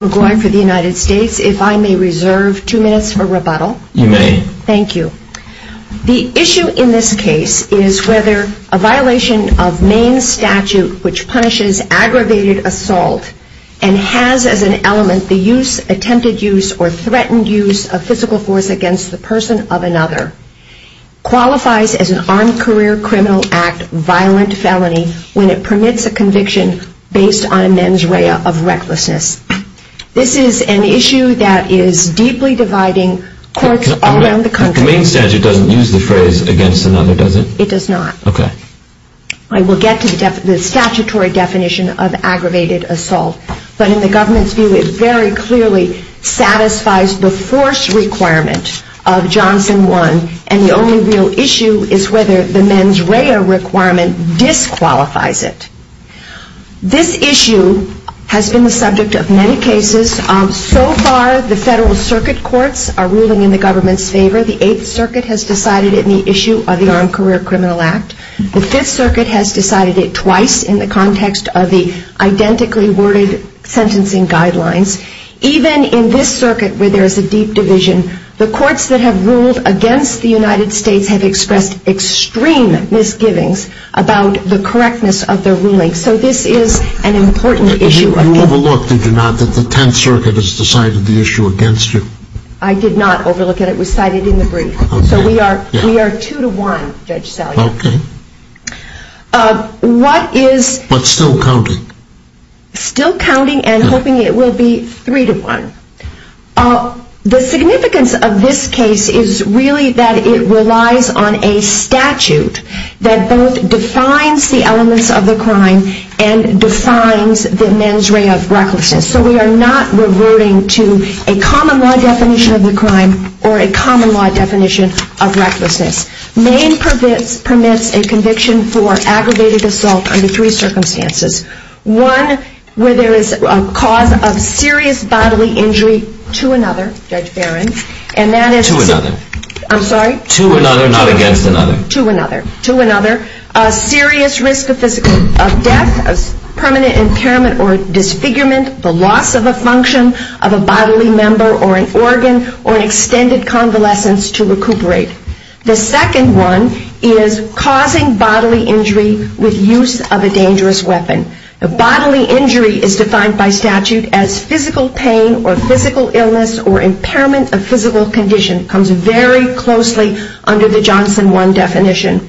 for the United States. If I may reserve two minutes for rebuttal. You may. Thank you. The issue in this case is whether a violation of Maine's statute which punishes aggravated assault and has as an element the use, attempted use, or threatened use of physical force against the person of another, qualifies as an Armed Career Criminal Act violent felony when it permits a conviction based on a mens rea of recklessness. This is an issue that is deeply dividing courts all around the country. The Maine statute doesn't use the phrase against another, does it? It does not. Okay. I will get to the statutory definition of aggravated assault, but in the government's view it very clearly satisfies the force requirement of Johnson 1, and the only real issue is whether the mens rea requirement disqualifies it. This issue has been the subject of many cases. So far the Federal Circuit Courts are ruling in the government's favor. The Eighth Circuit has decided it in the issue of the Armed Career Criminal Act. The Fifth Circuit has decided it twice in the context of the identically worded sentencing guidelines. Even in this circuit where there is a deep division, the courts that have ruled against the United States have expressed extreme misgivings about the correctness of their ruling. So this is an important issue. You overlooked, did you not, that the Tenth Circuit has decided the issue against you? I did not overlook it. It was cited in the brief. So we are two to one, Judge Salyer. Okay. What is But still counting. Still counting and hoping it will be three to one. The significance of this case is really that it relies on a statute that both defines the elements of the crime and defines the mens rea of recklessness. So we are not reverting to a common law definition of the crime or a common law definition of recklessness. Maine permits a conviction for aggravated assault under three circumstances. One where there is a cause of serious bodily injury to another, Judge Barron, and that is To another. I'm sorry? To another, not against another. To another. To another. A serious risk of physical death, permanent impairment or disfigurement, the loss of a function of a bodily member or an organ, or an extended convalescence to recuperate. The second one is causing bodily injury with use of a dangerous weapon. Bodily injury is defined by statute as physical pain or physical illness or impairment of physical condition comes very closely under the Johnson 1 definition.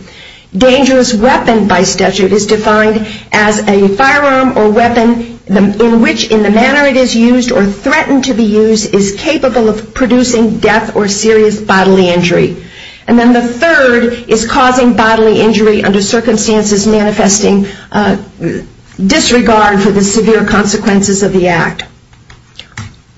Dangerous weapon by statute is defined as a firearm or weapon in which in the manner it is used or threatened to be used is capable of producing death or serious bodily injury. And then the third is causing bodily injury under circumstances manifesting disregard for the severe consequences of the act.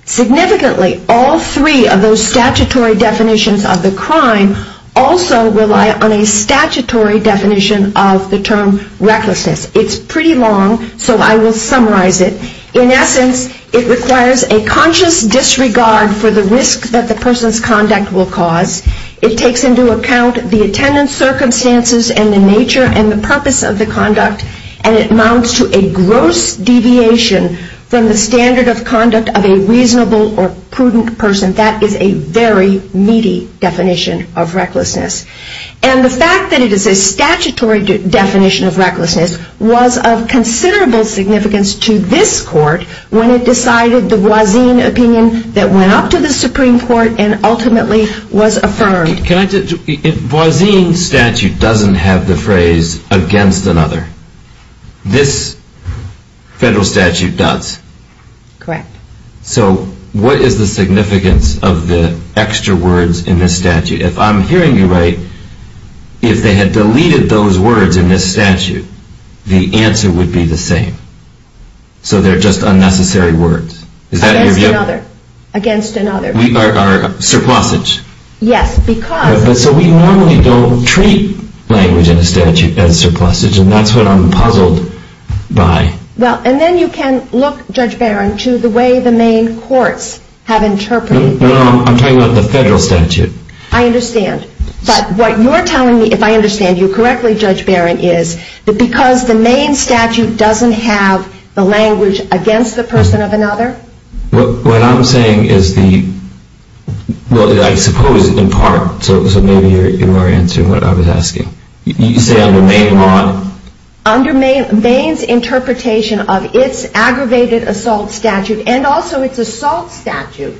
Significantly, all three of those statutory definitions of the crime also rely on a statutory definition of the term recklessness. It's pretty long, so I will summarize it. In essence, it requires a conscious disregard for the risk that the person's conduct will cause. It takes into account the attendance circumstances and the nature and the purpose of the conduct, and it amounts to a gross deviation from the standard of conduct of a reasonable or prudent person. That is a very meaty definition of recklessness. And the fact that it is a statutory definition of recklessness was of considerable significance to this court when it decided the Voisin opinion that went up to the Supreme Court and ultimately was affirmed. If Voisin's statute doesn't have the phrase against another, this federal statute does. Correct. So what is the significance of the extra words in this statute? If I'm hearing you right, if they had deleted those words in this statute, the answer would be the same. So they're just unnecessary words. Against another. Is that your view? Against another. We are surplusage. Yes, because... So we normally don't treat language in a statute as surplusage, and that's what I'm puzzled by. Well, and then you can look, Judge Barron, to the way the main courts have interpreted it. No, no, I'm talking about the federal statute. I understand. But what you're telling me, if I understand you correctly, Judge Barron, is that because the main statute doesn't have the language against the person of another... What I'm saying is the... Well, I suppose in part, so maybe you are answering what I was asking. You say under Maine law... Under Maine's interpretation of its aggravated assault statute, and also its assault statute,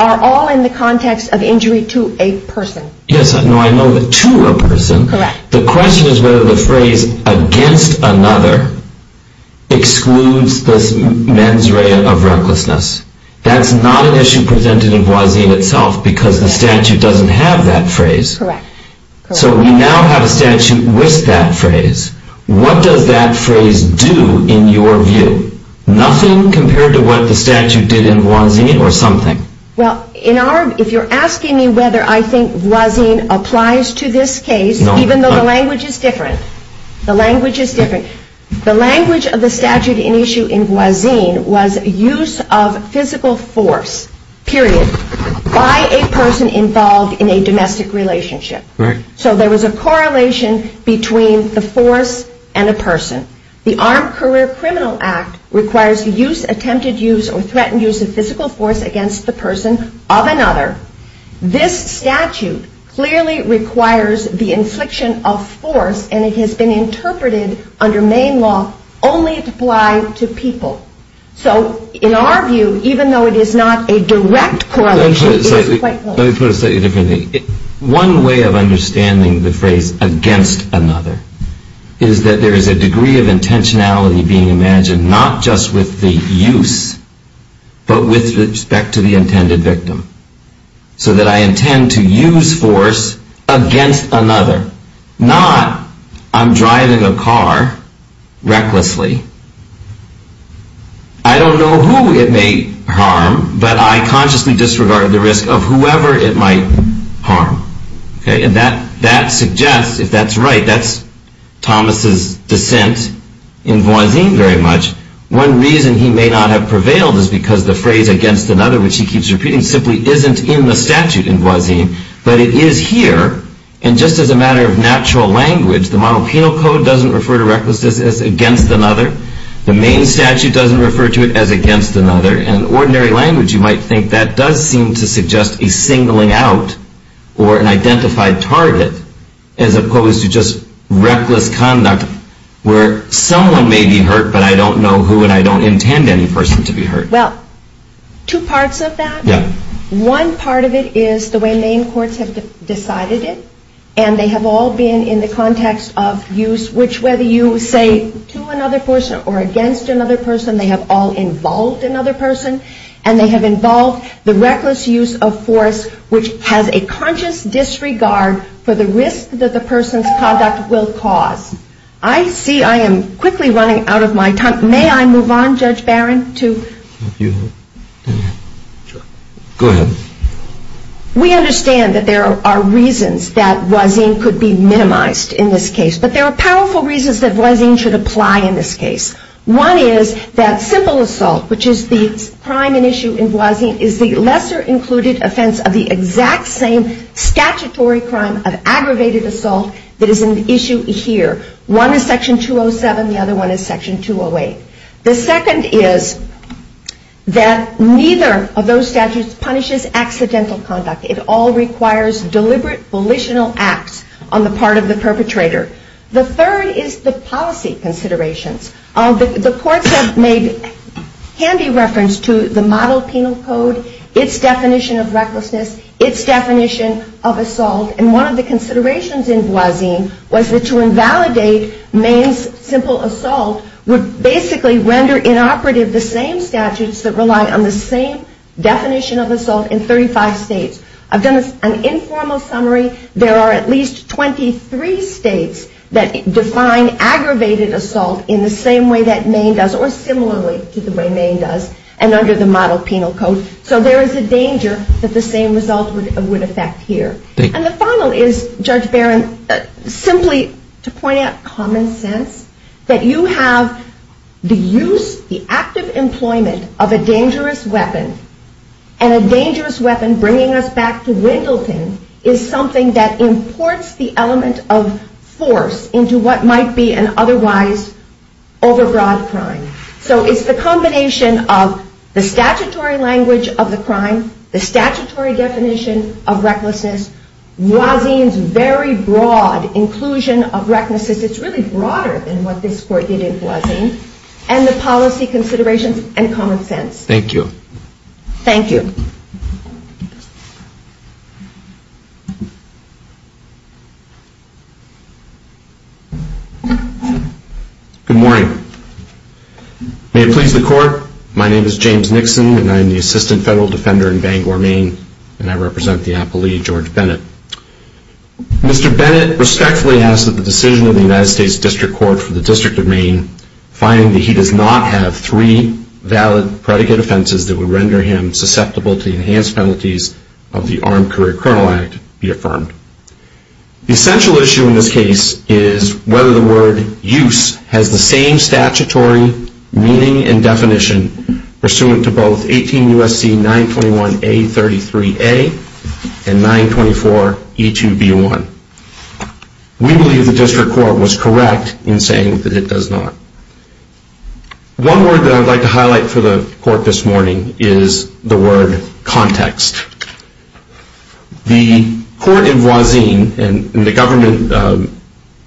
are all in the context of injury to a person. Yes, no, I know that to a person. Correct. The question is whether the phrase against another excludes this mens rea of recklessness. That's not an issue presented in Voisin itself, because the statute doesn't have that phrase. Correct. So we now have a statute with that phrase. What does that phrase do in your view? Nothing compared to what the statute did in Voisin or something. Well, if you're asking me whether I think Voisin applies to this case, even though the language is different, the language is different. The language of the statute in issue in Voisin was use of physical force, period, by a person involved in a domestic relationship. Correct. So there was a correlation between the force and a person. The Armed Career Criminal Act requires the use, attempted use, or threatened use of physical force against the person of another. This statute clearly requires the infliction of force, and it has been interpreted under Maine law only to apply to people. So in our view, even though it is not a direct correlation, it is quite close. Let me put it slightly differently. One way of understanding the phrase against another is that there is a degree of intentionality being imagined, not just with the use, but with respect to the intended victim. So that I intend to use force against another, not I'm driving a car recklessly. I don't know who it may harm, but I consciously disregard the risk of whoever it might harm. And that suggests, if that's right, that's Thomas's dissent in Voisin very much. One reason he may not have prevailed is because the phrase against another, which he keeps repeating, simply isn't in the statute in Voisin, but it is here. And just as a matter of natural language, the Monopenal Code doesn't refer to recklessness as against another. The Maine statute doesn't refer to it as against another. In ordinary language, you might think that does seem to suggest a singling out or an identified target, as opposed to just reckless conduct where someone may be hurt, but I don't know who and I don't intend any person to be hurt. Well, two parts of that. One part of it is the way Maine courts have decided it, and they have all been in the context of use, which whether you say to another person or against another person, they have all involved another person, and they have involved the reckless use of force, which has a conscious disregard for the risk that the person's conduct will cause. I see I am quickly running out of my time. May I move on, Judge Barron? Go ahead. We understand that there are reasons that Voisin could be minimized in this case, but there are powerful reasons that Voisin should apply in this case. One is that simple assault, which is the crime and issue in Voisin, is the lesser included offense of the exact same statutory crime of aggravated assault that is an issue here. One is Section 207, the other one is Section 208. The second is that neither of those statutes punishes accidental conduct. It all requires deliberate volitional acts on the part of the perpetrator. The third is the policy considerations. The courts have made handy reference to the model penal code, its definition of recklessness, its definition of assault, and one of the considerations in Voisin was that to invalidate Maine's simple assault would basically render inoperative the same statutes that rely on the same definition of assault in 35 states. I've done an informal summary. There are at least 23 states that define aggravated assault in the same way that Maine does or similarly to the way Maine does and under the model penal code. So there is a danger that the same result would affect here. And the final is, Judge Barron, simply to point out common sense, that you have the active employment of a dangerous weapon and a dangerous weapon bringing us back to Wendleton is something that imports the element of force into what might be an otherwise overbroad crime. So it's the combination of the statutory language of the crime, the statutory definition of recklessness, Voisin's very broad inclusion of recklessness. It's really broader than what this Court did in Voisin. And the policy considerations and common sense. Thank you. Thank you. Good morning. May it please the Court, my name is James Nixon and I am the Assistant Federal Defender in Bangor, Maine and I represent the appellee, George Bennett. Mr. Bennett respectfully asks that the decision of the United States District Court for the District of Maine finding that he does not have three valid predicate offenses that would render him susceptible to the enhanced penalties of the Armed Career Colonel Act be affirmed. The essential issue in this case is whether the word use has the same statutory meaning and definition pursuant to both 18 U.S.C. 921A33A and 924E2B1. We believe the District Court was correct in saying that it does not. One word that I would like to highlight for the Court this morning is the word context. The Court in Voisin and the government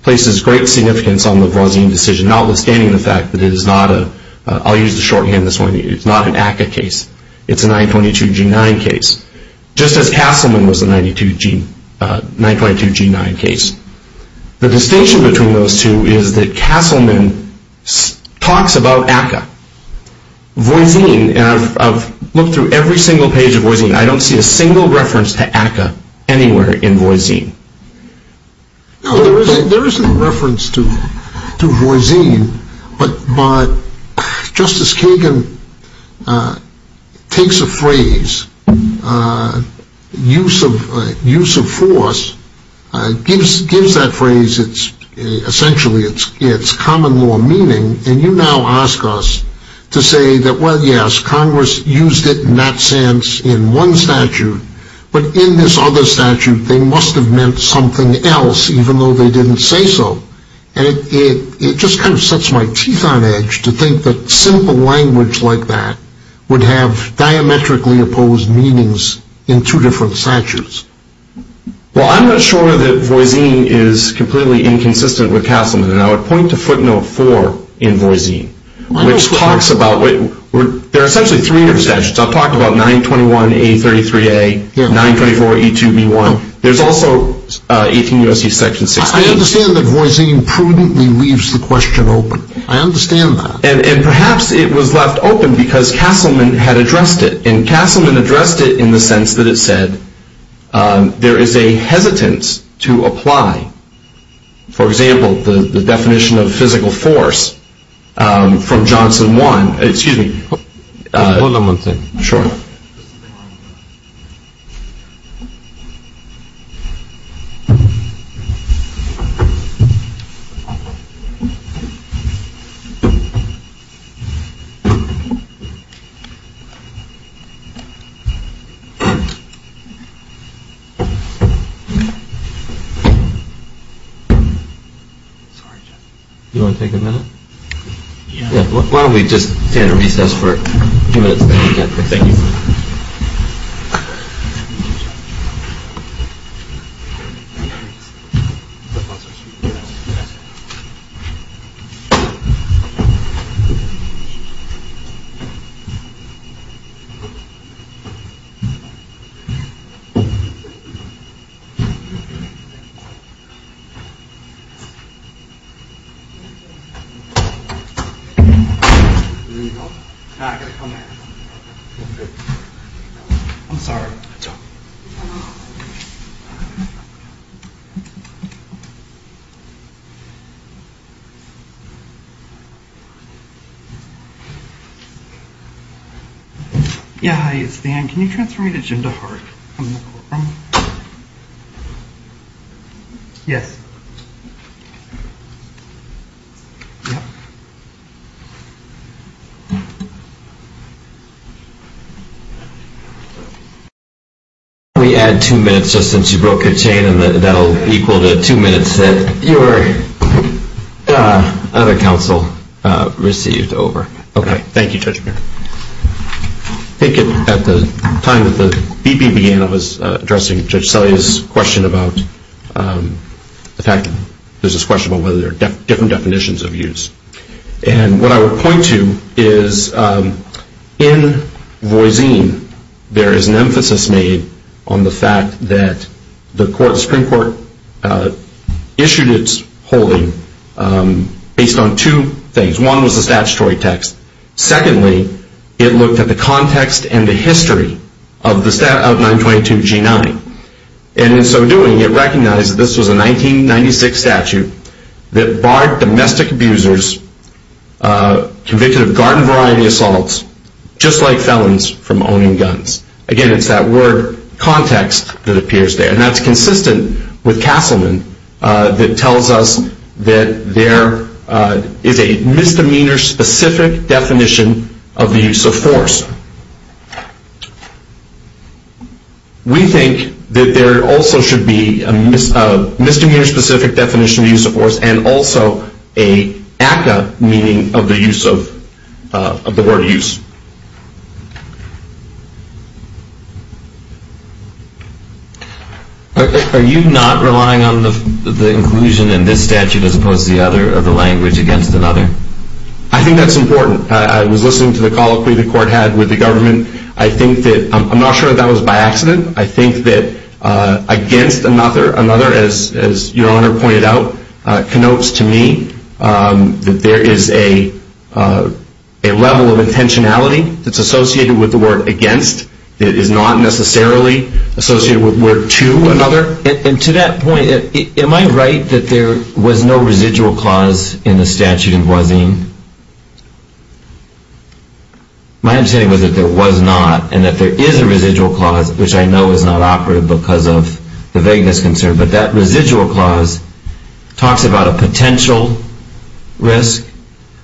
places great significance on the Voisin decision notwithstanding the fact that it is not a, I'll use the shorthand this morning, it's not an ACCA case. It's a 922G9 case. Just as Castleman was a 922G9 case. The distinction between those two is that Castleman talks about ACCA. Voisin, and I've looked through every single page of Voisin, I don't see a single reference to ACCA anywhere in Voisin. There isn't a reference to Voisin, but Justice Kagan takes a phrase, use of force, gives that phrase essentially its common law meaning, and you now ask us to say that well yes, Congress used it in that sense in one statute, but in this other statute they must have meant something else even though they didn't say so, and it just kind of sets my teeth on edge to think that simple language like that would have diametrically opposed meanings in two different statutes. Well I'm not sure that Voisin is completely inconsistent with Castleman, and I would point to footnote four in Voisin, which talks about, there are essentially three different statutes. I've talked about 921A33A, 924A2B1. There's also 18 U.S.C. section 16. I understand that Voisin prudently leaves the question open. I understand that. And perhaps it was left open because Castleman had addressed it, and Castleman addressed it in the sense that it said there is a hesitance to apply, for example, the definition of physical force from Johnson 1, excuse me. Hold on one second. Sure. Sorry, Jeff. Do you want to take a minute? Why don't we just stand and recess for a few minutes. I'm sorry. Yeah, hi, it's Dan. Can you transfer me to Jindal Heart? Yes. Thank you. Why don't we add two minutes, just since you broke your chain, and that will be equal to two minutes that your other counsel received. Over. Okay, thank you, Judge. I think at the time that the BP began, I was addressing Judge Selye's question about the fact that there's this question about whether there are different definitions of use. And what I would point to is in Voisin, there is an emphasis made on the fact that the Supreme Court issued its holding based on two things. One was the statutory text. Secondly, it looked at the context and the history of 922 G9. And in so doing, it recognized that this was a 1996 statute that barred domestic abusers convicted of garden variety assaults, just like felons from owning guns. Again, it's that word context that appears there. And that's consistent with Castleman that tells us that there is a misdemeanor-specific definition of the use of force. We think that there also should be a misdemeanor-specific definition of the use of force and also an ACCA meaning of the word use. Are you not relying on the inclusion in this statute as opposed to the other of the language against another? I think that's important. I was listening to the call that the court had with the government. I'm not sure that that was by accident. I think that against another, another, as Your Honor pointed out, connotes to me that there is a level of intentionality that's associated with the word against that is not necessarily associated with word to another. And to that point, am I right that there was no residual clause in the statute in Guazine? My understanding was that there was not and that there is a residual clause, which I know is not operative because of the vagueness concern. But that residual clause talks about a potential risk,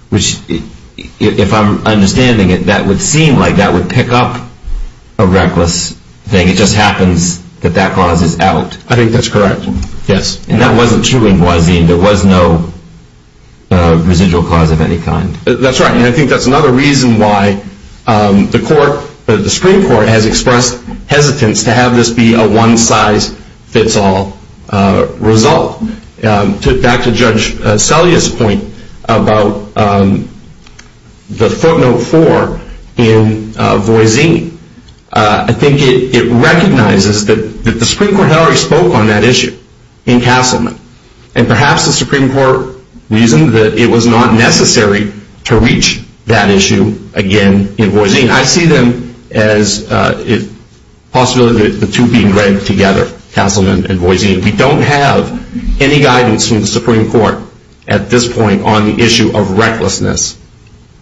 which if I'm understanding it, that would seem like that would pick up a reckless thing. It just happens that that clause is out. I think that's correct, yes. And that wasn't true in Guazine. There was no residual clause of any kind. That's right. And I think that's another reason why the Supreme Court has expressed hesitance to have this be a one-size-fits-all result. Back to Judge Selye's point about the footnote four in Guazine, I think it recognizes that the Supreme Court had already spoken on that issue in Castleman. And perhaps the Supreme Court reasoned that it was not necessary to have that footnote four in Guazine. And I think that's the reason why the Supreme Court has expressed a lot of hesitation to reach that issue again in Guazine. I see them as a possibility of the two being dragged together, Castleman and Guazine. We don't have any guidance from the Supreme Court at this point on the issue of recklessness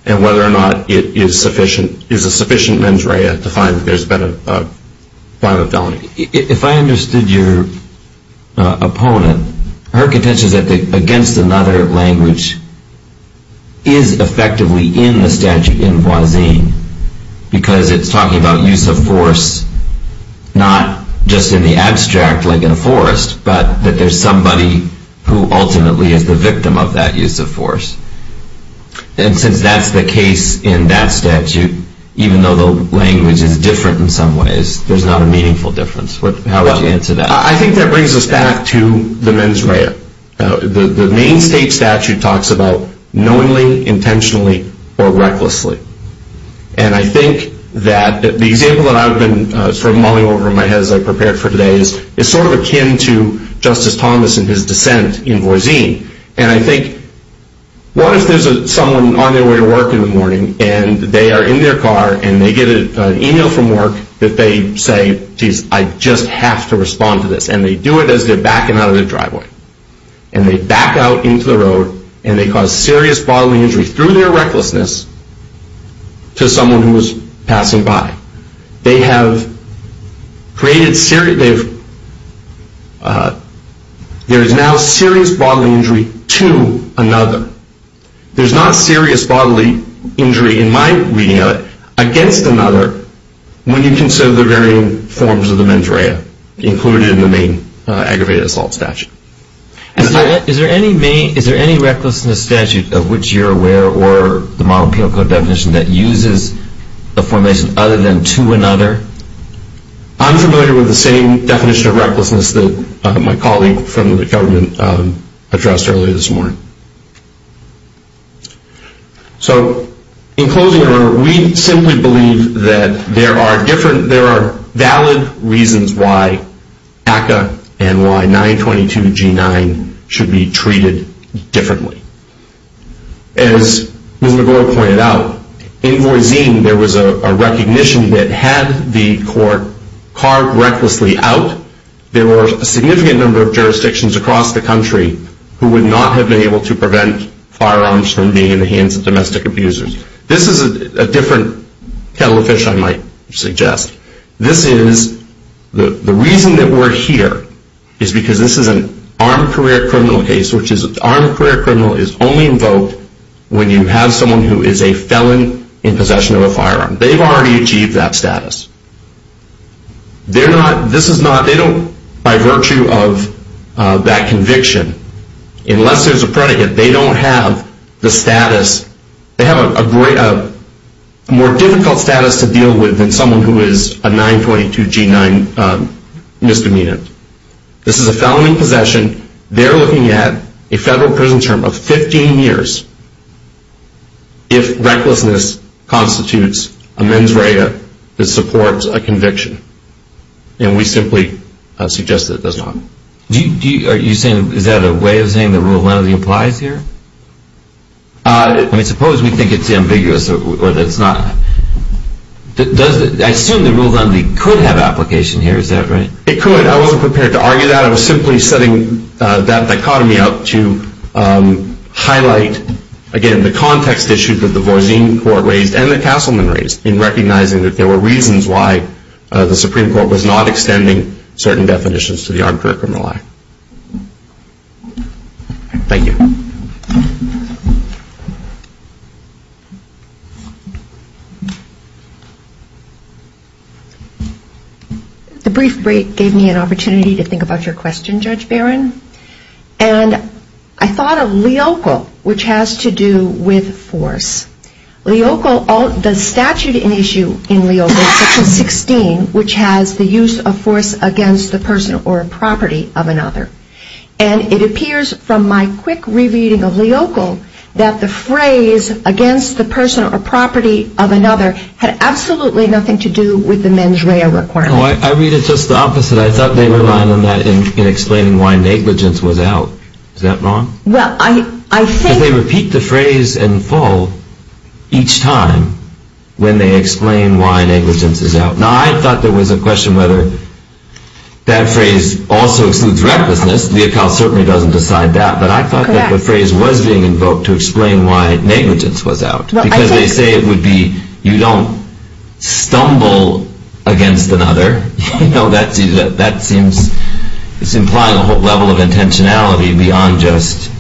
and whether or not it is a sufficient mens rea to find that there's been a crime of felony. If I understood your opponent, her contention is that against another language is effectively in the statute in Guazine because it's talking about use of force, not just in the abstract like in a forest, but that there's somebody who ultimately is the victim of that use of force. And since that's the case in that statute, even though the language is different in some ways, there's not a meaningful difference. I think that brings us back to the mens rea. The main state statute talks about knowingly, intentionally, or recklessly. And I think that the example that I've been sort of mulling over in my head as I prepared for today is sort of akin to Justice Thomas and his dissent in Guazine. And I think what if there's someone on their way to work in the morning and they are in their car and they get an email from work that they say, geez, I just have to respond to this. And they do it as they're backing out of the driveway. And they back out into the road and they cause serious bodily injury through their recklessness to someone who was passing by. There is now serious bodily injury to another. There's not serious bodily injury in my reading of it against another when you consider the varying forms of the mens rea included in the main aggravated assault statute. Is there any recklessness statute of which you're aware or the Model and Penal Code definition that uses a formation other than to another? I'm familiar with the same definition of recklessness that my colleague from the government addressed earlier this morning. So in closing, we simply believe that there are different, there are valid reasons why NACA and why 922 G9 should be treated differently. As Ms. McGraw pointed out, in Guazine there was a recognition that had the court carved recklessly out, there were a significant number of jurisdictions across the country who would not have been able to prevent firearms from being in the hands of domestic abusers. This is a different kettle of fish I might suggest. The reason that we're here is because this is an armed career criminal case, which is armed career criminal is only invoked when you have someone who is a felon in possession of a firearm. They've already achieved that status. They don't, by virtue of that conviction, unless there's a predicate, they don't have the status, they have a more difficult status to deal with than someone who is a 922 G9 misdemeanor. This is a felony possession. They're looking at a federal prison term of 15 years if recklessness constitutes a mens rea that supports a conviction. And we simply suggest that it does not. Are you saying, is that a way of saying that Rule 1 of the applies here? I mean, suppose we think it's ambiguous or that it's not. I assume that Rule 1 of the could have application here, is that right? It could. I wasn't prepared to argue that. I was simply setting that dichotomy up to highlight, again, the context issue that the Voisin court raised and the Castleman raised in recognizing that there were reasons why the Supreme Court was not extending certain definitions to the armed career criminal act. Thank you. The brief break gave me an opportunity to think about your question, Judge Barron. And I thought of Leocal, which has to do with force. Leocal, the statute in issue in Leocal, Section 16, which has the use of force against the person or property of another. And it appears from my quick re-reading of Leocal that the phrase against the person or property of another had absolutely nothing to do with the mens rea requirement. I read it just the opposite. I thought they were relying on that in explaining why negligence was out. Is that wrong? Well, I think... Because they repeat the phrase in full each time when they explain why negligence is out. Now, I thought there was a question whether that phrase also excludes recklessness. Leocal certainly doesn't decide that. But I thought that the phrase was being invoked to explain why negligence was out. Because they say it would be, you don't stumble against another. You know, that seems to imply a whole level of intentionality beyond just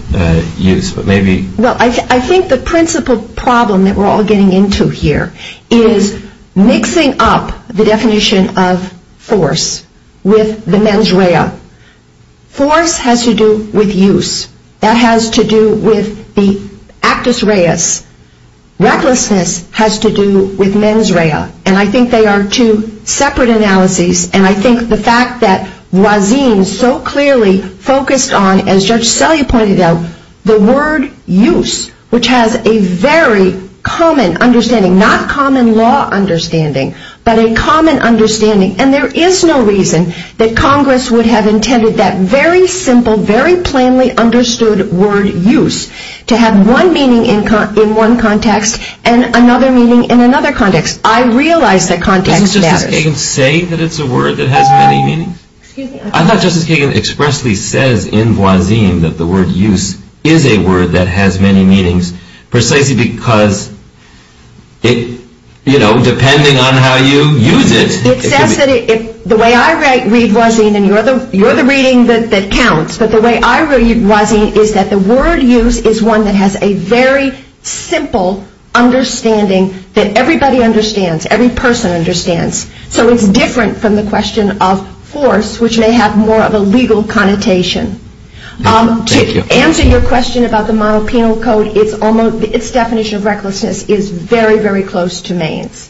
use. But maybe... Well, I think the principal problem that we're all getting into here is mixing up the definition of force with the mens rea. Force has to do with use. That has to do with the actus reus. Recklessness has to do with mens rea. And I think they are two separate analyses. And I think the fact that Wazin so clearly focused on, as Judge Selye pointed out, the word use, which has a very common understanding, not common law understanding, but a common understanding. And there is no reason that Congress would have intended that very simple, very plainly understood word use to have one meaning in one context and another meaning in another context. I realize that context matters. Doesn't Justice Kagan say that it's a word that has many meanings? I thought Justice Kagan expressly says in Wazin that the word use is a word that has many meanings, precisely because it, you know, depending on how you use it... It says that the way I read Wazin, and you're the reading that counts, but the way I read Wazin is that the word use is one that has a very simple understanding that everybody understands, every person understands. So it's different from the question of force, which may have more of a legal connotation. To answer your question about the model penal code, its definition of recklessness is very, very close to Maine's. Thank you.